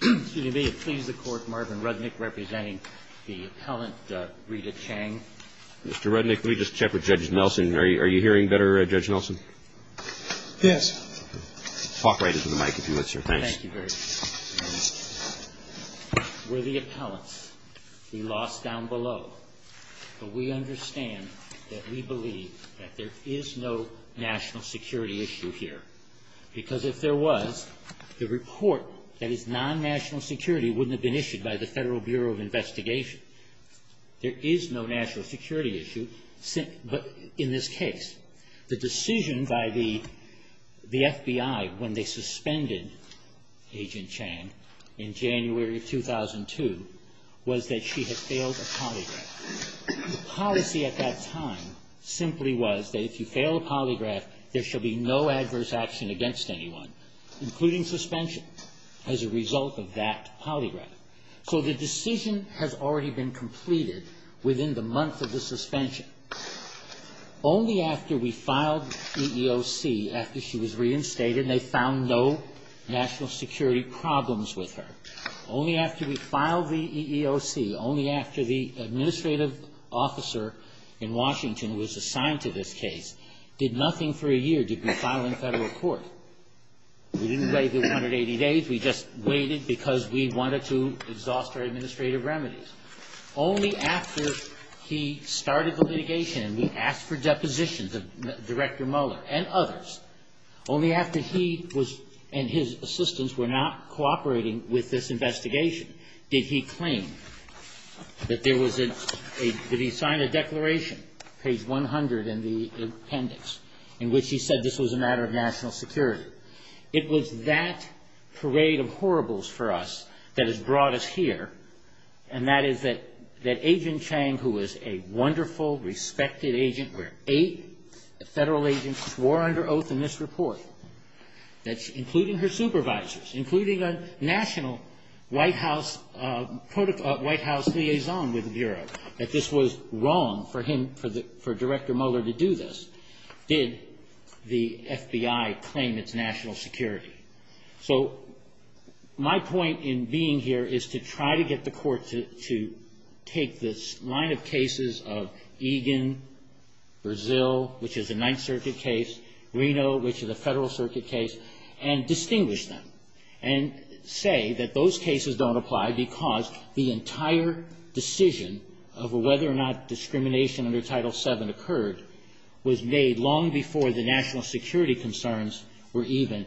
May it please the Court, Marvin Rudnick representing the appellant Rita Chang. Mr. Rudnick, let me just check with Judge Nelson. Are you hearing better, Judge Nelson? Yes. Talk right into the mic if you would, sir. Thanks. Thank you very much. We're the appellants. We lost down below. But we understand that we believe that there is no national security issue here. Because if there was, the report that is non-national security wouldn't have been issued by the Federal Bureau of Investigation. There is no national security issue in this case. The decision by the FBI when they suspended Agent Chang in January of 2002 was that she had failed a polygraph. The policy at that time simply was that if you fail a polygraph, there shall be no adverse action against anyone, including suspension as a result of that polygraph. So the decision has already been completed within the month of the suspension. Only after we filed EEOC, after she was reinstated and they found no national security problems with her, only after we filed the EEOC, only after the administrative officer in Washington was assigned to this case, did nothing for a year did we file in federal court. We didn't wait 180 days. We just waited because we wanted to exhaust our administrative remedies. Only after he started the litigation and we asked for depositions of Director Mueller and others, only after he and his assistants were not cooperating with this investigation, did he claim that there was a, did he sign a declaration, page 100 in the appendix, in which he said this was a matter of national security. It was that parade of horribles for us that has brought us here, and that is that Agent Chang, who was a wonderful, respected agent, where eight federal agents swore under oath in this report, including her supervisors, including a national White House liaison with the Bureau, that this was wrong for him, for Director Mueller to do this, did the FBI claim its national security. So my point in being here is to try to get the Court to take this line of cases of Egan, Brazil, which is a Ninth Circuit case, Reno, which is a Federal Circuit case, and distinguish them, and say that those cases don't apply because the entire decision of whether or not discrimination under Title VII occurred was made long before the national security concerns were even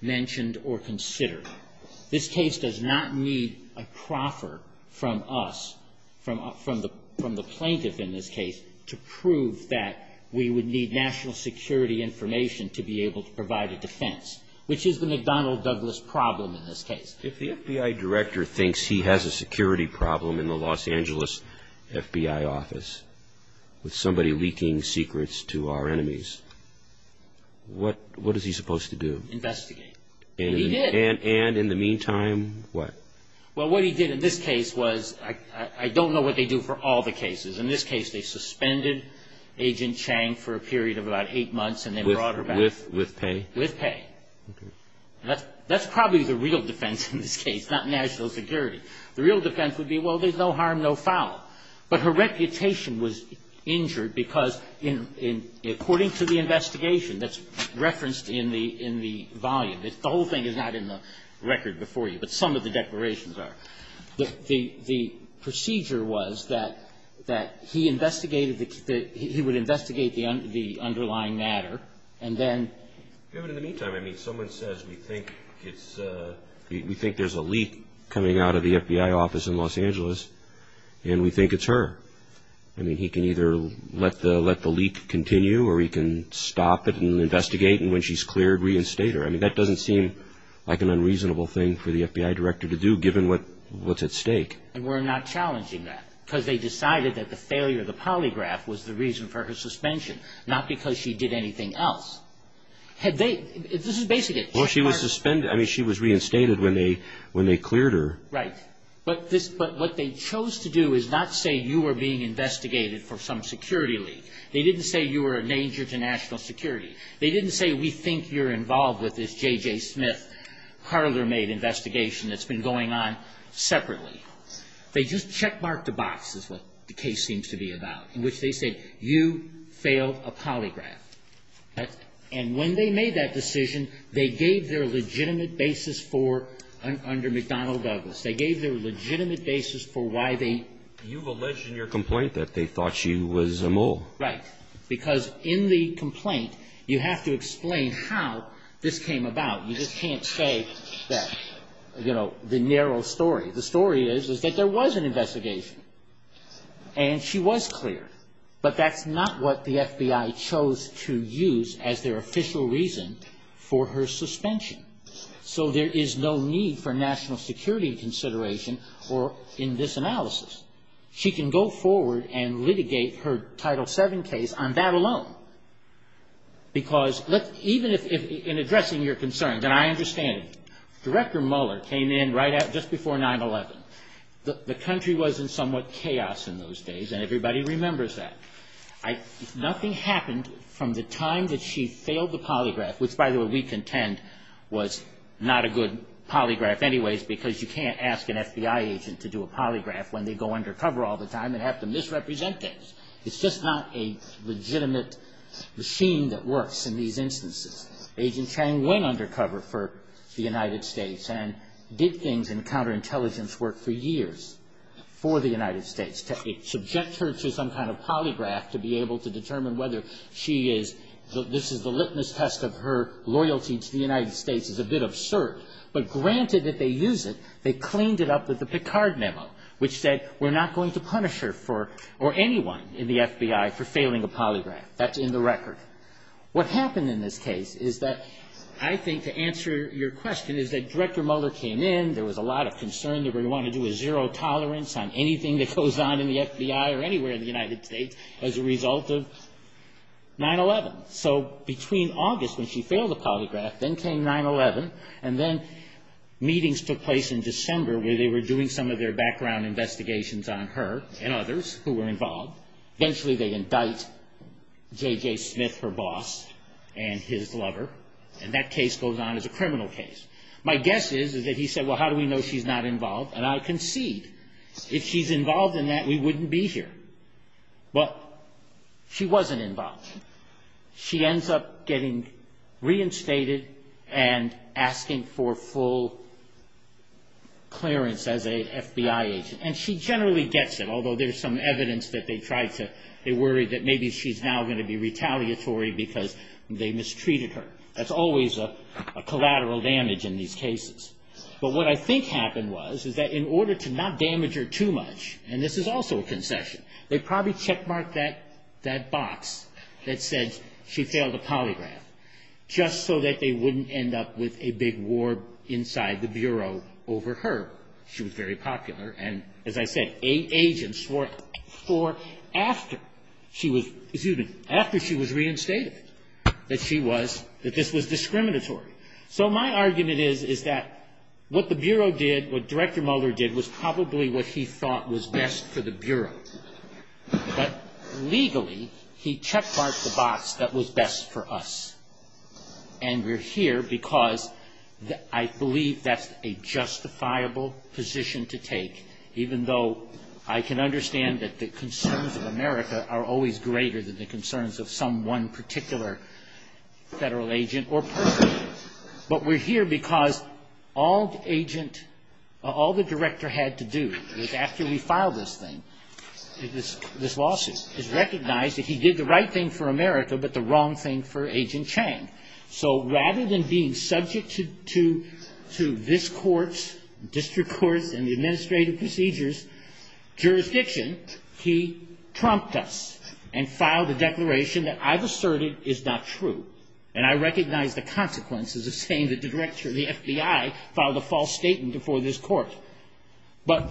mentioned or considered. This case does not need a proffer from us, from the plaintiff in this case, to prove that we would need national security information to be able to provide a defense, which is the McDonnell-Douglas problem in this case. If the FBI director thinks he has a security problem in the Los Angeles FBI office with somebody leaking secrets to our enemies, what is he supposed to do? Investigate. And he did. And in the meantime, what? Well, what he did in this case was, I don't know what they do for all the cases. In this case, they suspended Agent Chang for a period of about eight months and then brought her back. With pay? With pay. Okay. That's probably the real defense in this case, not national security. The real defense would be, well, there's no harm, no foul. But her reputation was injured because, according to the investigation that's referenced in the volume, the whole thing is not in the record before you, but some of the declarations are, the procedure was that he investigated the – he would investigate the underlying matter, and then – Because we think it's – we think there's a leak coming out of the FBI office in Los Angeles, and we think it's her. I mean, he can either let the leak continue, or he can stop it and investigate, and when she's cleared, reinstate her. I mean, that doesn't seem like an unreasonable thing for the FBI director to do, given what's at stake. And we're not challenging that, because they decided that the failure of the polygraph was the reason for her suspension, not because she did anything else. Had they – this is basically – Well, she was suspended. I mean, she was reinstated when they cleared her. Right. But this – but what they chose to do is not say you were being investigated for some security leak. They didn't say you were a danger to national security. They didn't say we think you're involved with this J.J. Smith parlor-made investigation that's been going on separately. They just checkmarked a box, is what the case seems to be about, in which they said, you failed a polygraph. Right. And when they made that decision, they gave their legitimate basis for – under McDonnell Douglas. They gave their legitimate basis for why they – You've alleged in your complaint that they thought she was a mole. Right. Because in the complaint, you have to explain how this came about. You just can't say that, you know, the narrow story. The story is, is that there was an investigation, and she was cleared. But that's not what the FBI chose to use as their official reason for her suspension. So there is no need for national security consideration in this analysis. She can go forward and litigate her Title VII case on that alone. Because even if – in addressing your concern, and I understand it. Director Mueller came in right at – just before 9-11. The country was in somewhat chaos in those days, and everybody remembers that. Nothing happened from the time that she failed the polygraph – which, by the way, we contend was not a good polygraph anyways, because you can't ask an FBI agent to do a polygraph when they go undercover all the time and have to misrepresent things. It's just not a legitimate machine that works in these instances. Agent Chang went undercover for the United States and did things in counterintelligence work for years for the United States. To subject her to some kind of polygraph to be able to determine whether she is – this is the litmus test of her loyalty to the United States is a bit absurd. But granted that they use it, they cleaned it up with the Picard memo, which said we're not going to punish her for – or anyone in the FBI for failing a polygraph. That's in the record. What happened in this case is that I think to answer your question is that Director Mueller came in. There was a lot of concern. They were going to want to do a zero tolerance on anything that goes on in the FBI or anywhere in the United States as a result of 9-11. So between August when she failed the polygraph, then came 9-11, and then meetings took place in December where they were doing some of their background investigations on her and others who were involved. Eventually they indict J.J. Smith, her boss, and his lover, and that case goes on as a criminal case. My guess is that he said, well, how do we know she's not involved, and I concede. If she's involved in that, we wouldn't be here. Well, she wasn't involved. She ends up getting reinstated and asking for full clearance as a FBI agent. And she generally gets it, although there's some evidence that they worried that maybe she's now going to be retaliatory because they mistreated her. That's always a collateral damage in these cases. But what I think happened was that in order to not damage her too much, and this is also a concession, they probably checkmarked that box that said she failed the polygraph just so that they wouldn't end up with a big war inside the Bureau over her. She was very popular, and as I said, agents swore after she was reinstated that this was discriminatory. So my argument is that what the Bureau did, what Director Mueller did, was probably what he thought was best for the Bureau. But legally, he checkmarked the box that was best for us. And we're here because I believe that's a justifiable position to take, even though I can understand that the concerns of America are always greater than the concerns of some one particular federal agent or person. But we're here because all the Director had to do was, after we filed this thing, this lawsuit, is recognize that he did the right thing for America, but the wrong thing for Agent Chang. So rather than being subject to this court's, district court's, and the administrative procedure's jurisdiction, he trumped us and filed a declaration that I've asserted is not true. And I recognize the consequences of saying that the Director of the FBI filed a false statement before this court. But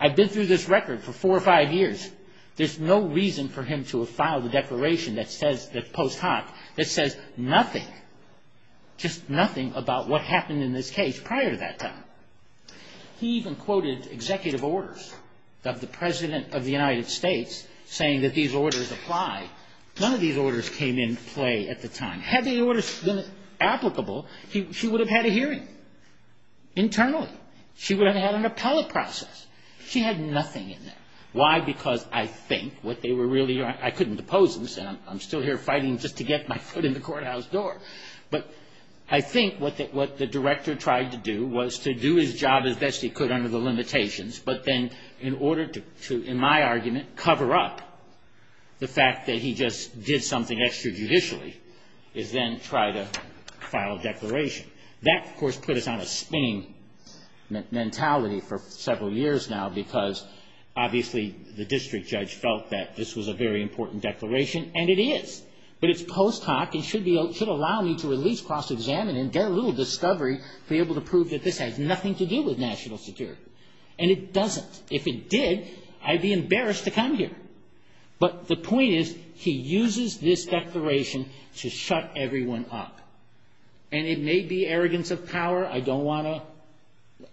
I've been through this record for four or five years. There's no reason for him to have filed a declaration that says, that post hoc, that says nothing, just nothing about what happened in this case prior to that time. He even quoted executive orders of the President of the United States, saying that these orders apply. None of these orders came into play at the time. Had these orders been applicable, she would have had a hearing, internally. She would have had an appellate process. She had nothing in there. Why? Because I think what they were really, I couldn't oppose this, and I'm still here fighting just to get my foot in the courthouse door. But I think what the Director tried to do was to do his job as best he could under the limitations, but then in order to, in my argument, cover up the fact that he just did something extra judicially, is then try to file a declaration. That, of course, put us on a spinning mentality for several years now, because obviously the district judge felt that this was a very important declaration, and it is, but it's post hoc and should allow me to at least cross-examine and get a little discovery to be able to prove that this has nothing to do with national security. And it doesn't. If it did, I'd be embarrassed to come here. But the point is, he uses this declaration to shut everyone up. And it may be arrogance of power. I don't want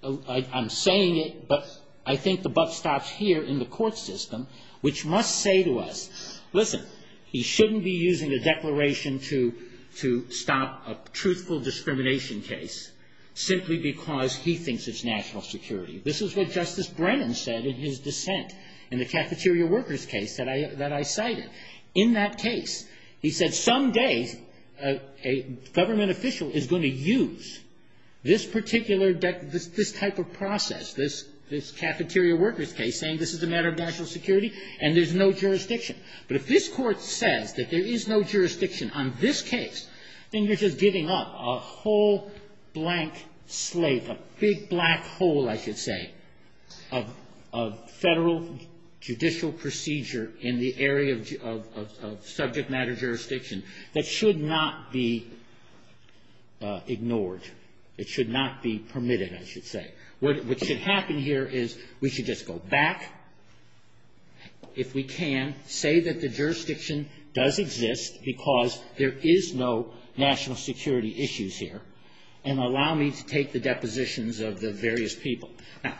to, I'm saying it, but I think the buff stops here in the court system, which must say to us, listen, he shouldn't be using a declaration to stop a truthful discrimination case simply because he thinks it's national security. This is what Justice Brennan said in his dissent in the cafeteria workers case that I cited. In that case, he said some day a government official is going to use this particular, this type of process, this cafeteria workers case, saying this is a matter of national security and there's no jurisdiction. But if this court says that there is no jurisdiction on this case, then you're just giving up a whole blank slate, a big black hole, I should say, of federal judicial procedure in the area of subject matter jurisdiction. That should not be ignored. It should not be permitted, I should say. What should happen here is we should just go back, if we can, say that the jurisdiction does exist because there is no national security issues here, and allow me to take the depositions of the various people. Now,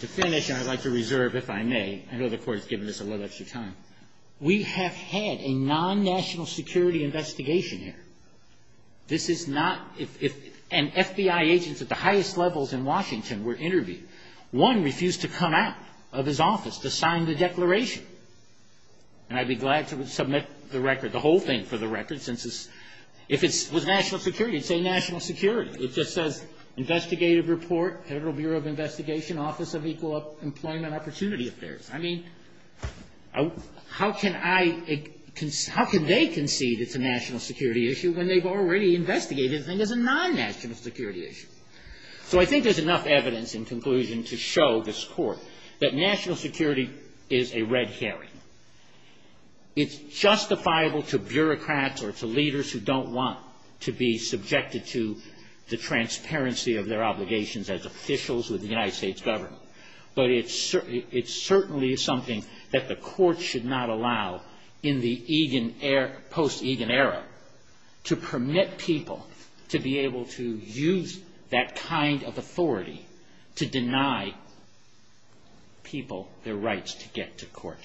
to finish, and I'd like to reserve, if I may. I know the Court has given us a little extra time. We have had a non-national security investigation here. This is not, if an FBI agent at the highest levels in Washington were interviewed, one refused to come out of his office to sign the declaration. And I'd be glad to submit the record, the whole thing for the record, since it's, if it was national security, it'd say national security. It just says investigative report, Federal Bureau of Investigation, Office of Equal Employment Opportunity Affairs. I mean, how can I, how can they concede it's a national security issue when they've already investigated it and it's a non-national security issue? So I think there's enough evidence in conclusion to show this Court that national security is a red herring. It's justifiable to bureaucrats or to leaders who don't want to be subjected to transparency of their obligations as officials with the United States government. But it certainly is something that the Court should not allow in the post-Egan era to permit people to be able to use that kind of authority to deny people their rights to get to court.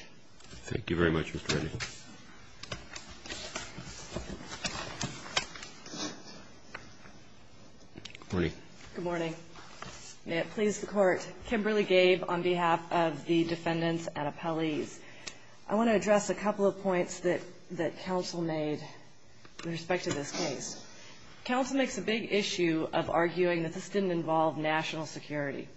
Thank you very much, Mr. Reddy. Good morning. Good morning. May it please the Court. Kimberly Gabe on behalf of the defendants and appellees. I want to address a couple of points that counsel made with respect to this case. Counsel makes a big issue of arguing that this didn't involve national security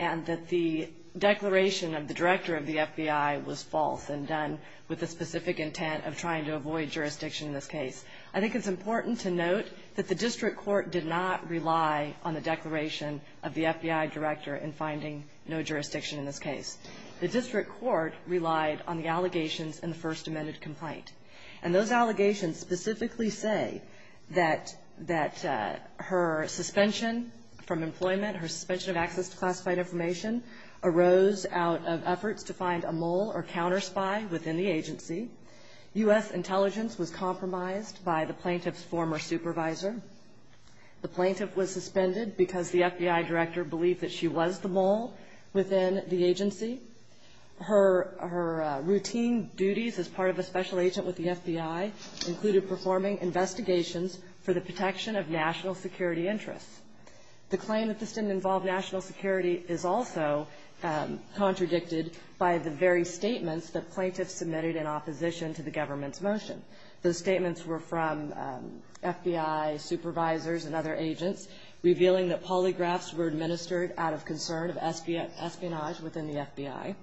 and that the declaration of the director of the FBI was false and done with the specific intent of trying to avoid jurisdiction in this case. I think it's important to note that the district court did not rely on the declaration of the FBI director in finding no jurisdiction in this case. The district court relied on the allegations in the first amended complaint. And those allegations specifically say that her suspension from employment, her suspension of access to classified information, arose out of efforts to find a mole or counter-spy within the agency. U.S. intelligence was compromised by the plaintiff's former supervisor. The plaintiff was suspended because the FBI director believed that she was the mole within the agency. Her routine duties as part of a special agent with the FBI included performing investigations for the protection of national security interests. The claim that this didn't involve national security is also contradicted by the very statements that plaintiffs submitted in opposition to the government's motion. Those statements were from FBI supervisors and other agents revealing that polygraphs were administered out of concern of espionage within the FBI.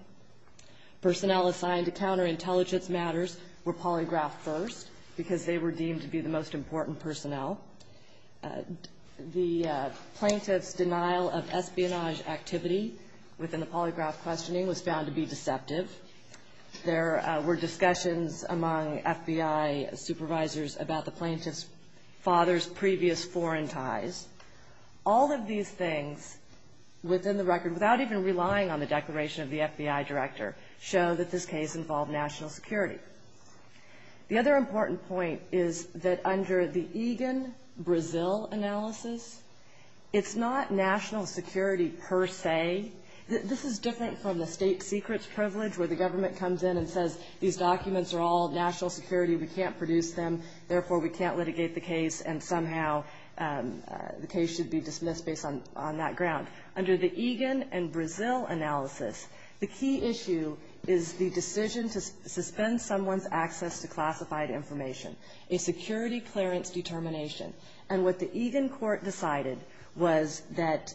Personnel assigned to counterintelligence matters were polygraphed first because they were deemed to be the most important personnel. The plaintiff's denial of espionage activity within the polygraph questioning was found to be deceptive. There were discussions among FBI supervisors about the plaintiff's father's previous foreign ties. All of these things within the record, without even relying on the declaration of the FBI director, show that this case involved national security. The other important point is that under the Egan-Brazil analysis, it's not national security per se. This is different from the state secrets privilege where the government comes in and says these documents are all national security, we can't produce them, therefore we can't litigate the case and somehow the case should be dismissed based on that ground. Under the Egan-Brazil analysis, the key issue is the decision to suspend someone's access to classified information, a security clearance determination. And what the Egan court decided was that,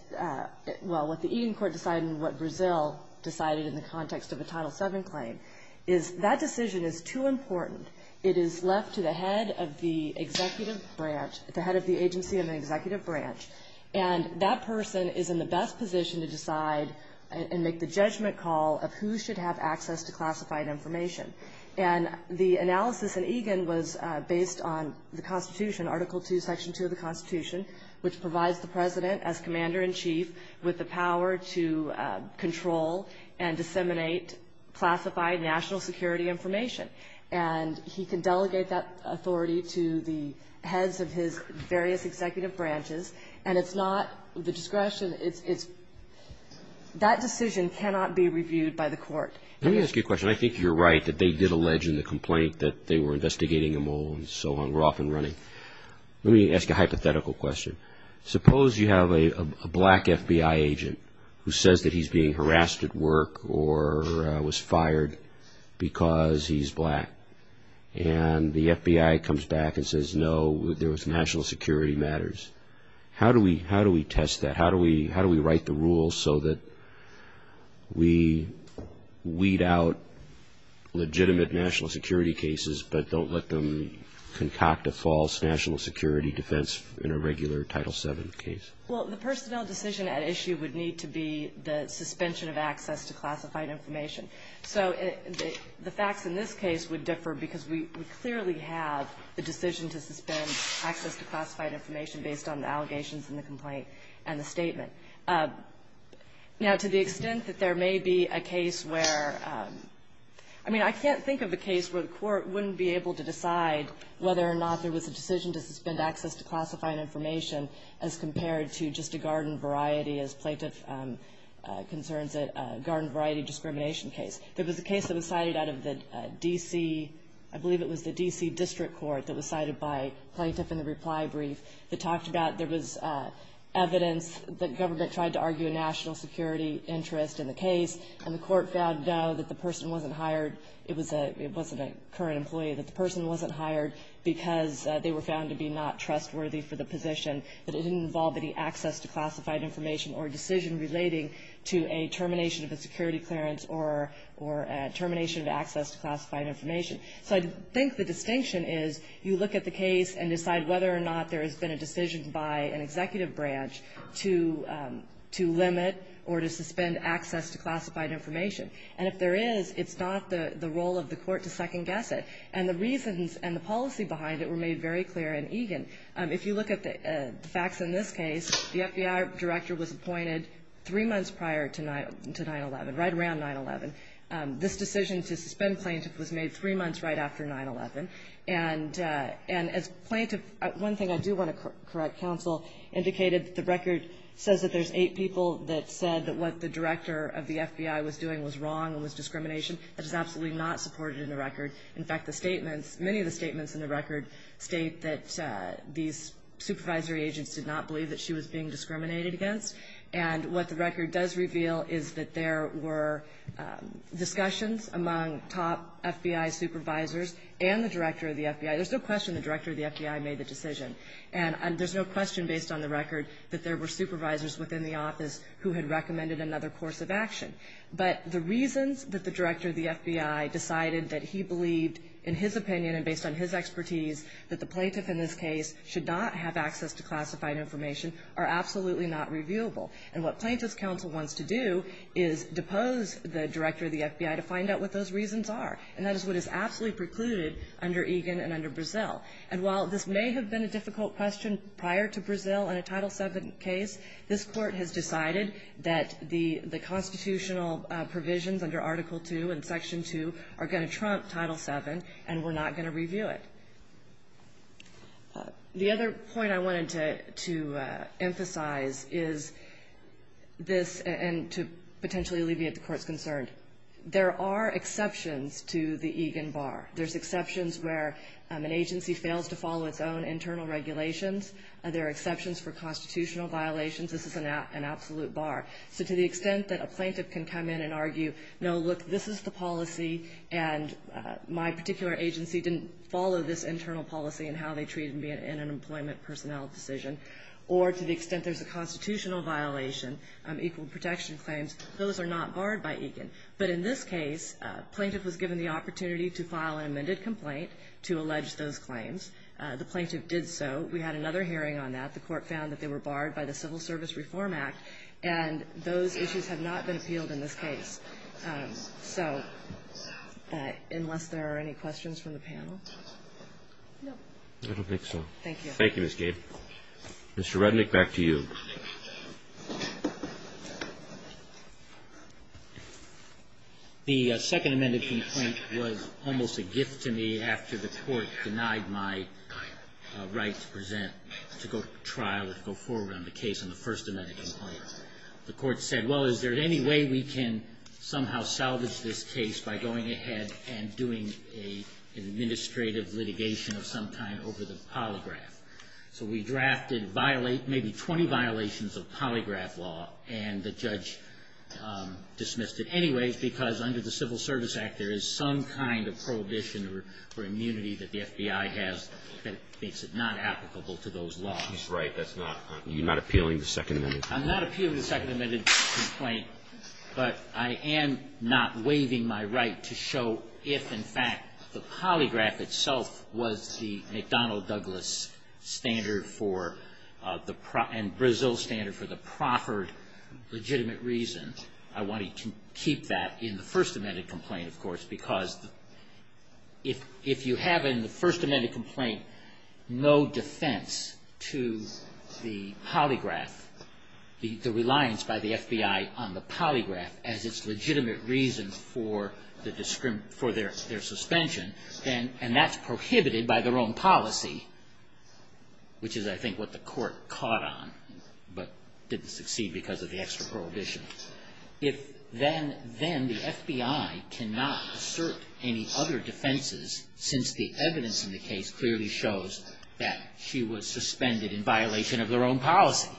well, what the Egan court decided and what Brazil decided in the context of a Title VII claim is that decision is too important. It is left to the head of the executive branch, the head of the agency in the executive branch, and that person is in the best position to decide and make the judgment call of who should have access to classified information. And the analysis in Egan was based on the Constitution, Article II, Section 2 of the Constitution, which provides the president as commander-in-chief with the power to control and disseminate classified national security information. And he can delegate that authority to the heads of his various executive branches and it's not the discretion. That decision cannot be reviewed by the court. Let me ask you a question. I think you're right that they did allege in the complaint that they were investigating a mole and so on. We're off and running. Let me ask a hypothetical question. Suppose you have a black FBI agent who says that he's being harassed at work or was fired because he's black. And the FBI comes back and says, no, there was national security matters. How do we test that? How do we write the rules so that we weed out legitimate national security cases but don't let them concoct a false national security defense in a regular Title VII case? Well, the personnel decision at issue would need to be the suspension of access to classified information. So the facts in this case would differ because we clearly have the decision to suspend access to classified information based on the allegations in the complaint and the statement. Now, to the extent that there may be a case where, I mean, I can't think of a case where the court wouldn't be able to decide whether or not there was a decision to suspend access to classified information as compared to just a garden variety as plaintiff concerns a garden variety discrimination case. There was a case that was cited out of the D.C. I believe it was the D.C. District Court that was cited by plaintiff in the reply brief that talked about there was evidence that government tried to argue a national security interest in the case, and the court found, no, that the person wasn't hired. It wasn't a current employee, that the person wasn't hired because they were found to be not trustworthy for the position. That it didn't involve any access to classified information or decision relating to a termination of a security clearance or termination of access to classified information. So I think the distinction is you look at the case and decide whether or not there has been a decision by an executive branch to limit or to suspend access to classified information. And if there is, it's not the role of the court to second-guess it. And the reasons and the policy behind it were made very clear in Egan. If you look at the facts in this case, the FBI director was appointed three months prior to 9-11, right around 9-11. This decision to suspend plaintiff was made three months right after 9-11. And as plaintiff, one thing I do want to correct, counsel, indicated that the record says that there's eight people that said that what the director of the FBI was doing was wrong and was discrimination. That is absolutely not supported in the record. In fact, the statements, many of the statements in the record state that these supervisory agents did not believe that she was being discriminated against. And what the record does reveal is that there were discussions among top FBI supervisors and the director of the FBI. There's no question the director of the FBI made the decision. And there's no question based on the record that there were supervisors within the office who had recommended another course of action. But the reasons that the director of the FBI decided that he believed, in his opinion and based on his expertise, that the plaintiff in this case should not have access to classified information are absolutely not reviewable. And what Plaintiff's counsel wants to do is depose the director of the FBI to find out what those reasons are. And that is what is absolutely precluded under Egan and under Brazil. And while this may have been a difficult question prior to Brazil in a Title VII case, this Court has decided that the constitutional provisions under Article II and Section II are going to trump Title VII, and we're not going to review it. The other point I wanted to emphasize is this and to potentially alleviate the Court's concern. There are exceptions to the Egan bar. There's exceptions where an agency fails to follow its own internal regulations. There are exceptions for constitutional violations. This is an absolute bar. So to the extent that a plaintiff can come in and argue, no, look, this is the policy and my particular agency didn't follow this internal policy in how they treated me in an employment personnel decision, or to the extent there's a constitutional violation, equal protection claims, those are not barred by Egan. But in this case, plaintiff was given the opportunity to file an amended complaint to allege those claims. The plaintiff did so. We had another hearing on that. The Court found that they were barred by the Civil Service Reform Act, and those issues have not been appealed in this case. So unless there are any questions from the panel? No. I don't think so. Thank you. Thank you, Ms. Gade. Mr. Rednick, back to you. Thank you. The second amended complaint was almost a gift to me after the Court denied my right to present, to go to trial, to go forward on the case on the first amended complaint. The Court said, well, is there any way we can somehow salvage this case by going ahead and doing an administrative litigation of some kind over the polygraph? So we drafted maybe 20 violations of polygraph law, and the judge dismissed it anyways because under the Civil Service Act, there is some kind of prohibition or immunity that the FBI has that makes it not applicable to those laws. He's right. That's not appealing the second amended complaint. I'm not appealing the second amended complaint, but I am not waiving my right to show if, in fact, the polygraph itself was the McDonnell-Douglas standard and Brazil standard for the proffered legitimate reason. I wanted to keep that in the first amended complaint, of course, because if you have in the first amended complaint no defense to the polygraph, the reliance by the FBI on the polygraph as its legitimate reason for their suspension, and that's prohibited by their own policy, which is, I think, what the Court caught on, but didn't succeed because of the extra prohibition, if then the FBI cannot assert any other defenses since the evidence in the case clearly shows that she was suspended in violation of their own policy.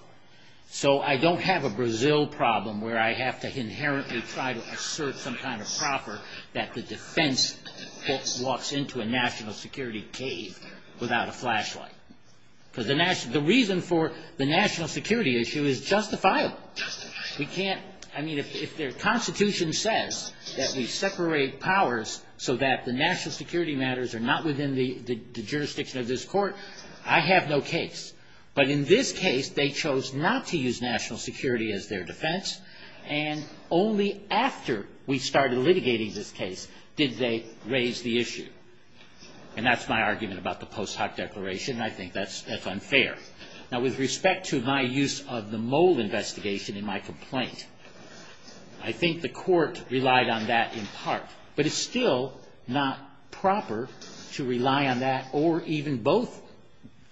So I don't have a Brazil problem where I have to inherently try to assert some kind of proffer that the defense walks into a national security cave without a flashlight. Because the reason for the national security issue is justifiable. We can't, I mean, if their Constitution says that we separate powers so that the national security matters are not within the jurisdiction of this Court, I have no case. But in this case, they chose not to use national security as their defense. And only after we started litigating this case did they raise the issue. And that's my argument about the post hoc declaration, and I think that's unfair. Now, with respect to my use of the mole investigation in my complaint, I think the Court relied on that in part. But it's still not proper to rely on that or even both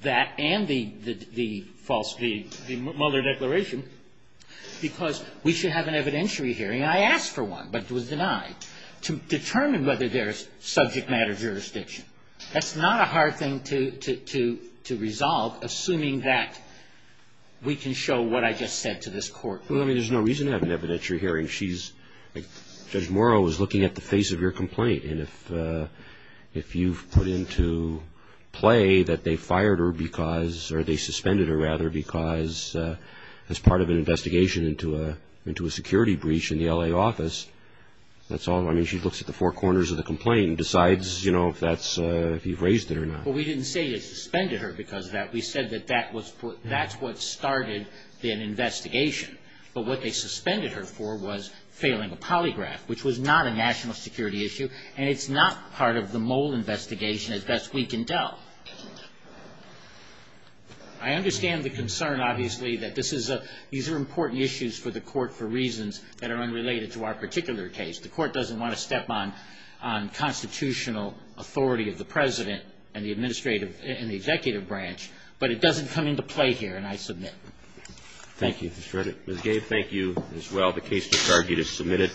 that and the false, the Mueller declaration, because we should have an evidentiary hearing. I asked for one, but it was denied, to determine whether there is subject matter jurisdiction. That's not a hard thing to resolve, assuming that we can show what I just said to this Court. Well, I mean, there's no reason to have an evidentiary hearing. Judge Morrow was looking at the face of your complaint, and if you've put into play that they fired her because, or they suspended her, rather, because as part of an investigation into a security breach in the L.A. office, that's all. I mean, she looks at the four corners of the complaint and decides, you know, if that's, if you've raised it or not. Well, we didn't say they suspended her because of that. We said that that's what started the investigation. But what they suspended her for was failing a polygraph, which was not a national security issue, and it's not part of the mole investigation as best we can tell. I understand the concern, obviously, that this is a, these are important issues for the Court for reasons that are unrelated to our particular case. The Court doesn't want to step on constitutional authority of the President and the administrative and the executive branch, but it doesn't come into play here, and I submit. Thank you, Mr. Redditt. Ms. Gabe, thank you, as well. The case to target is submitted.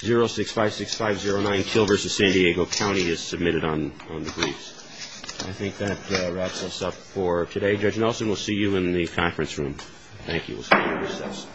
0656509, Kill v. San Diego County, is submitted on the briefs. I think that wraps us up for today. Judge Nelson, we'll see you in the conference room. Thank you. We'll start the recess.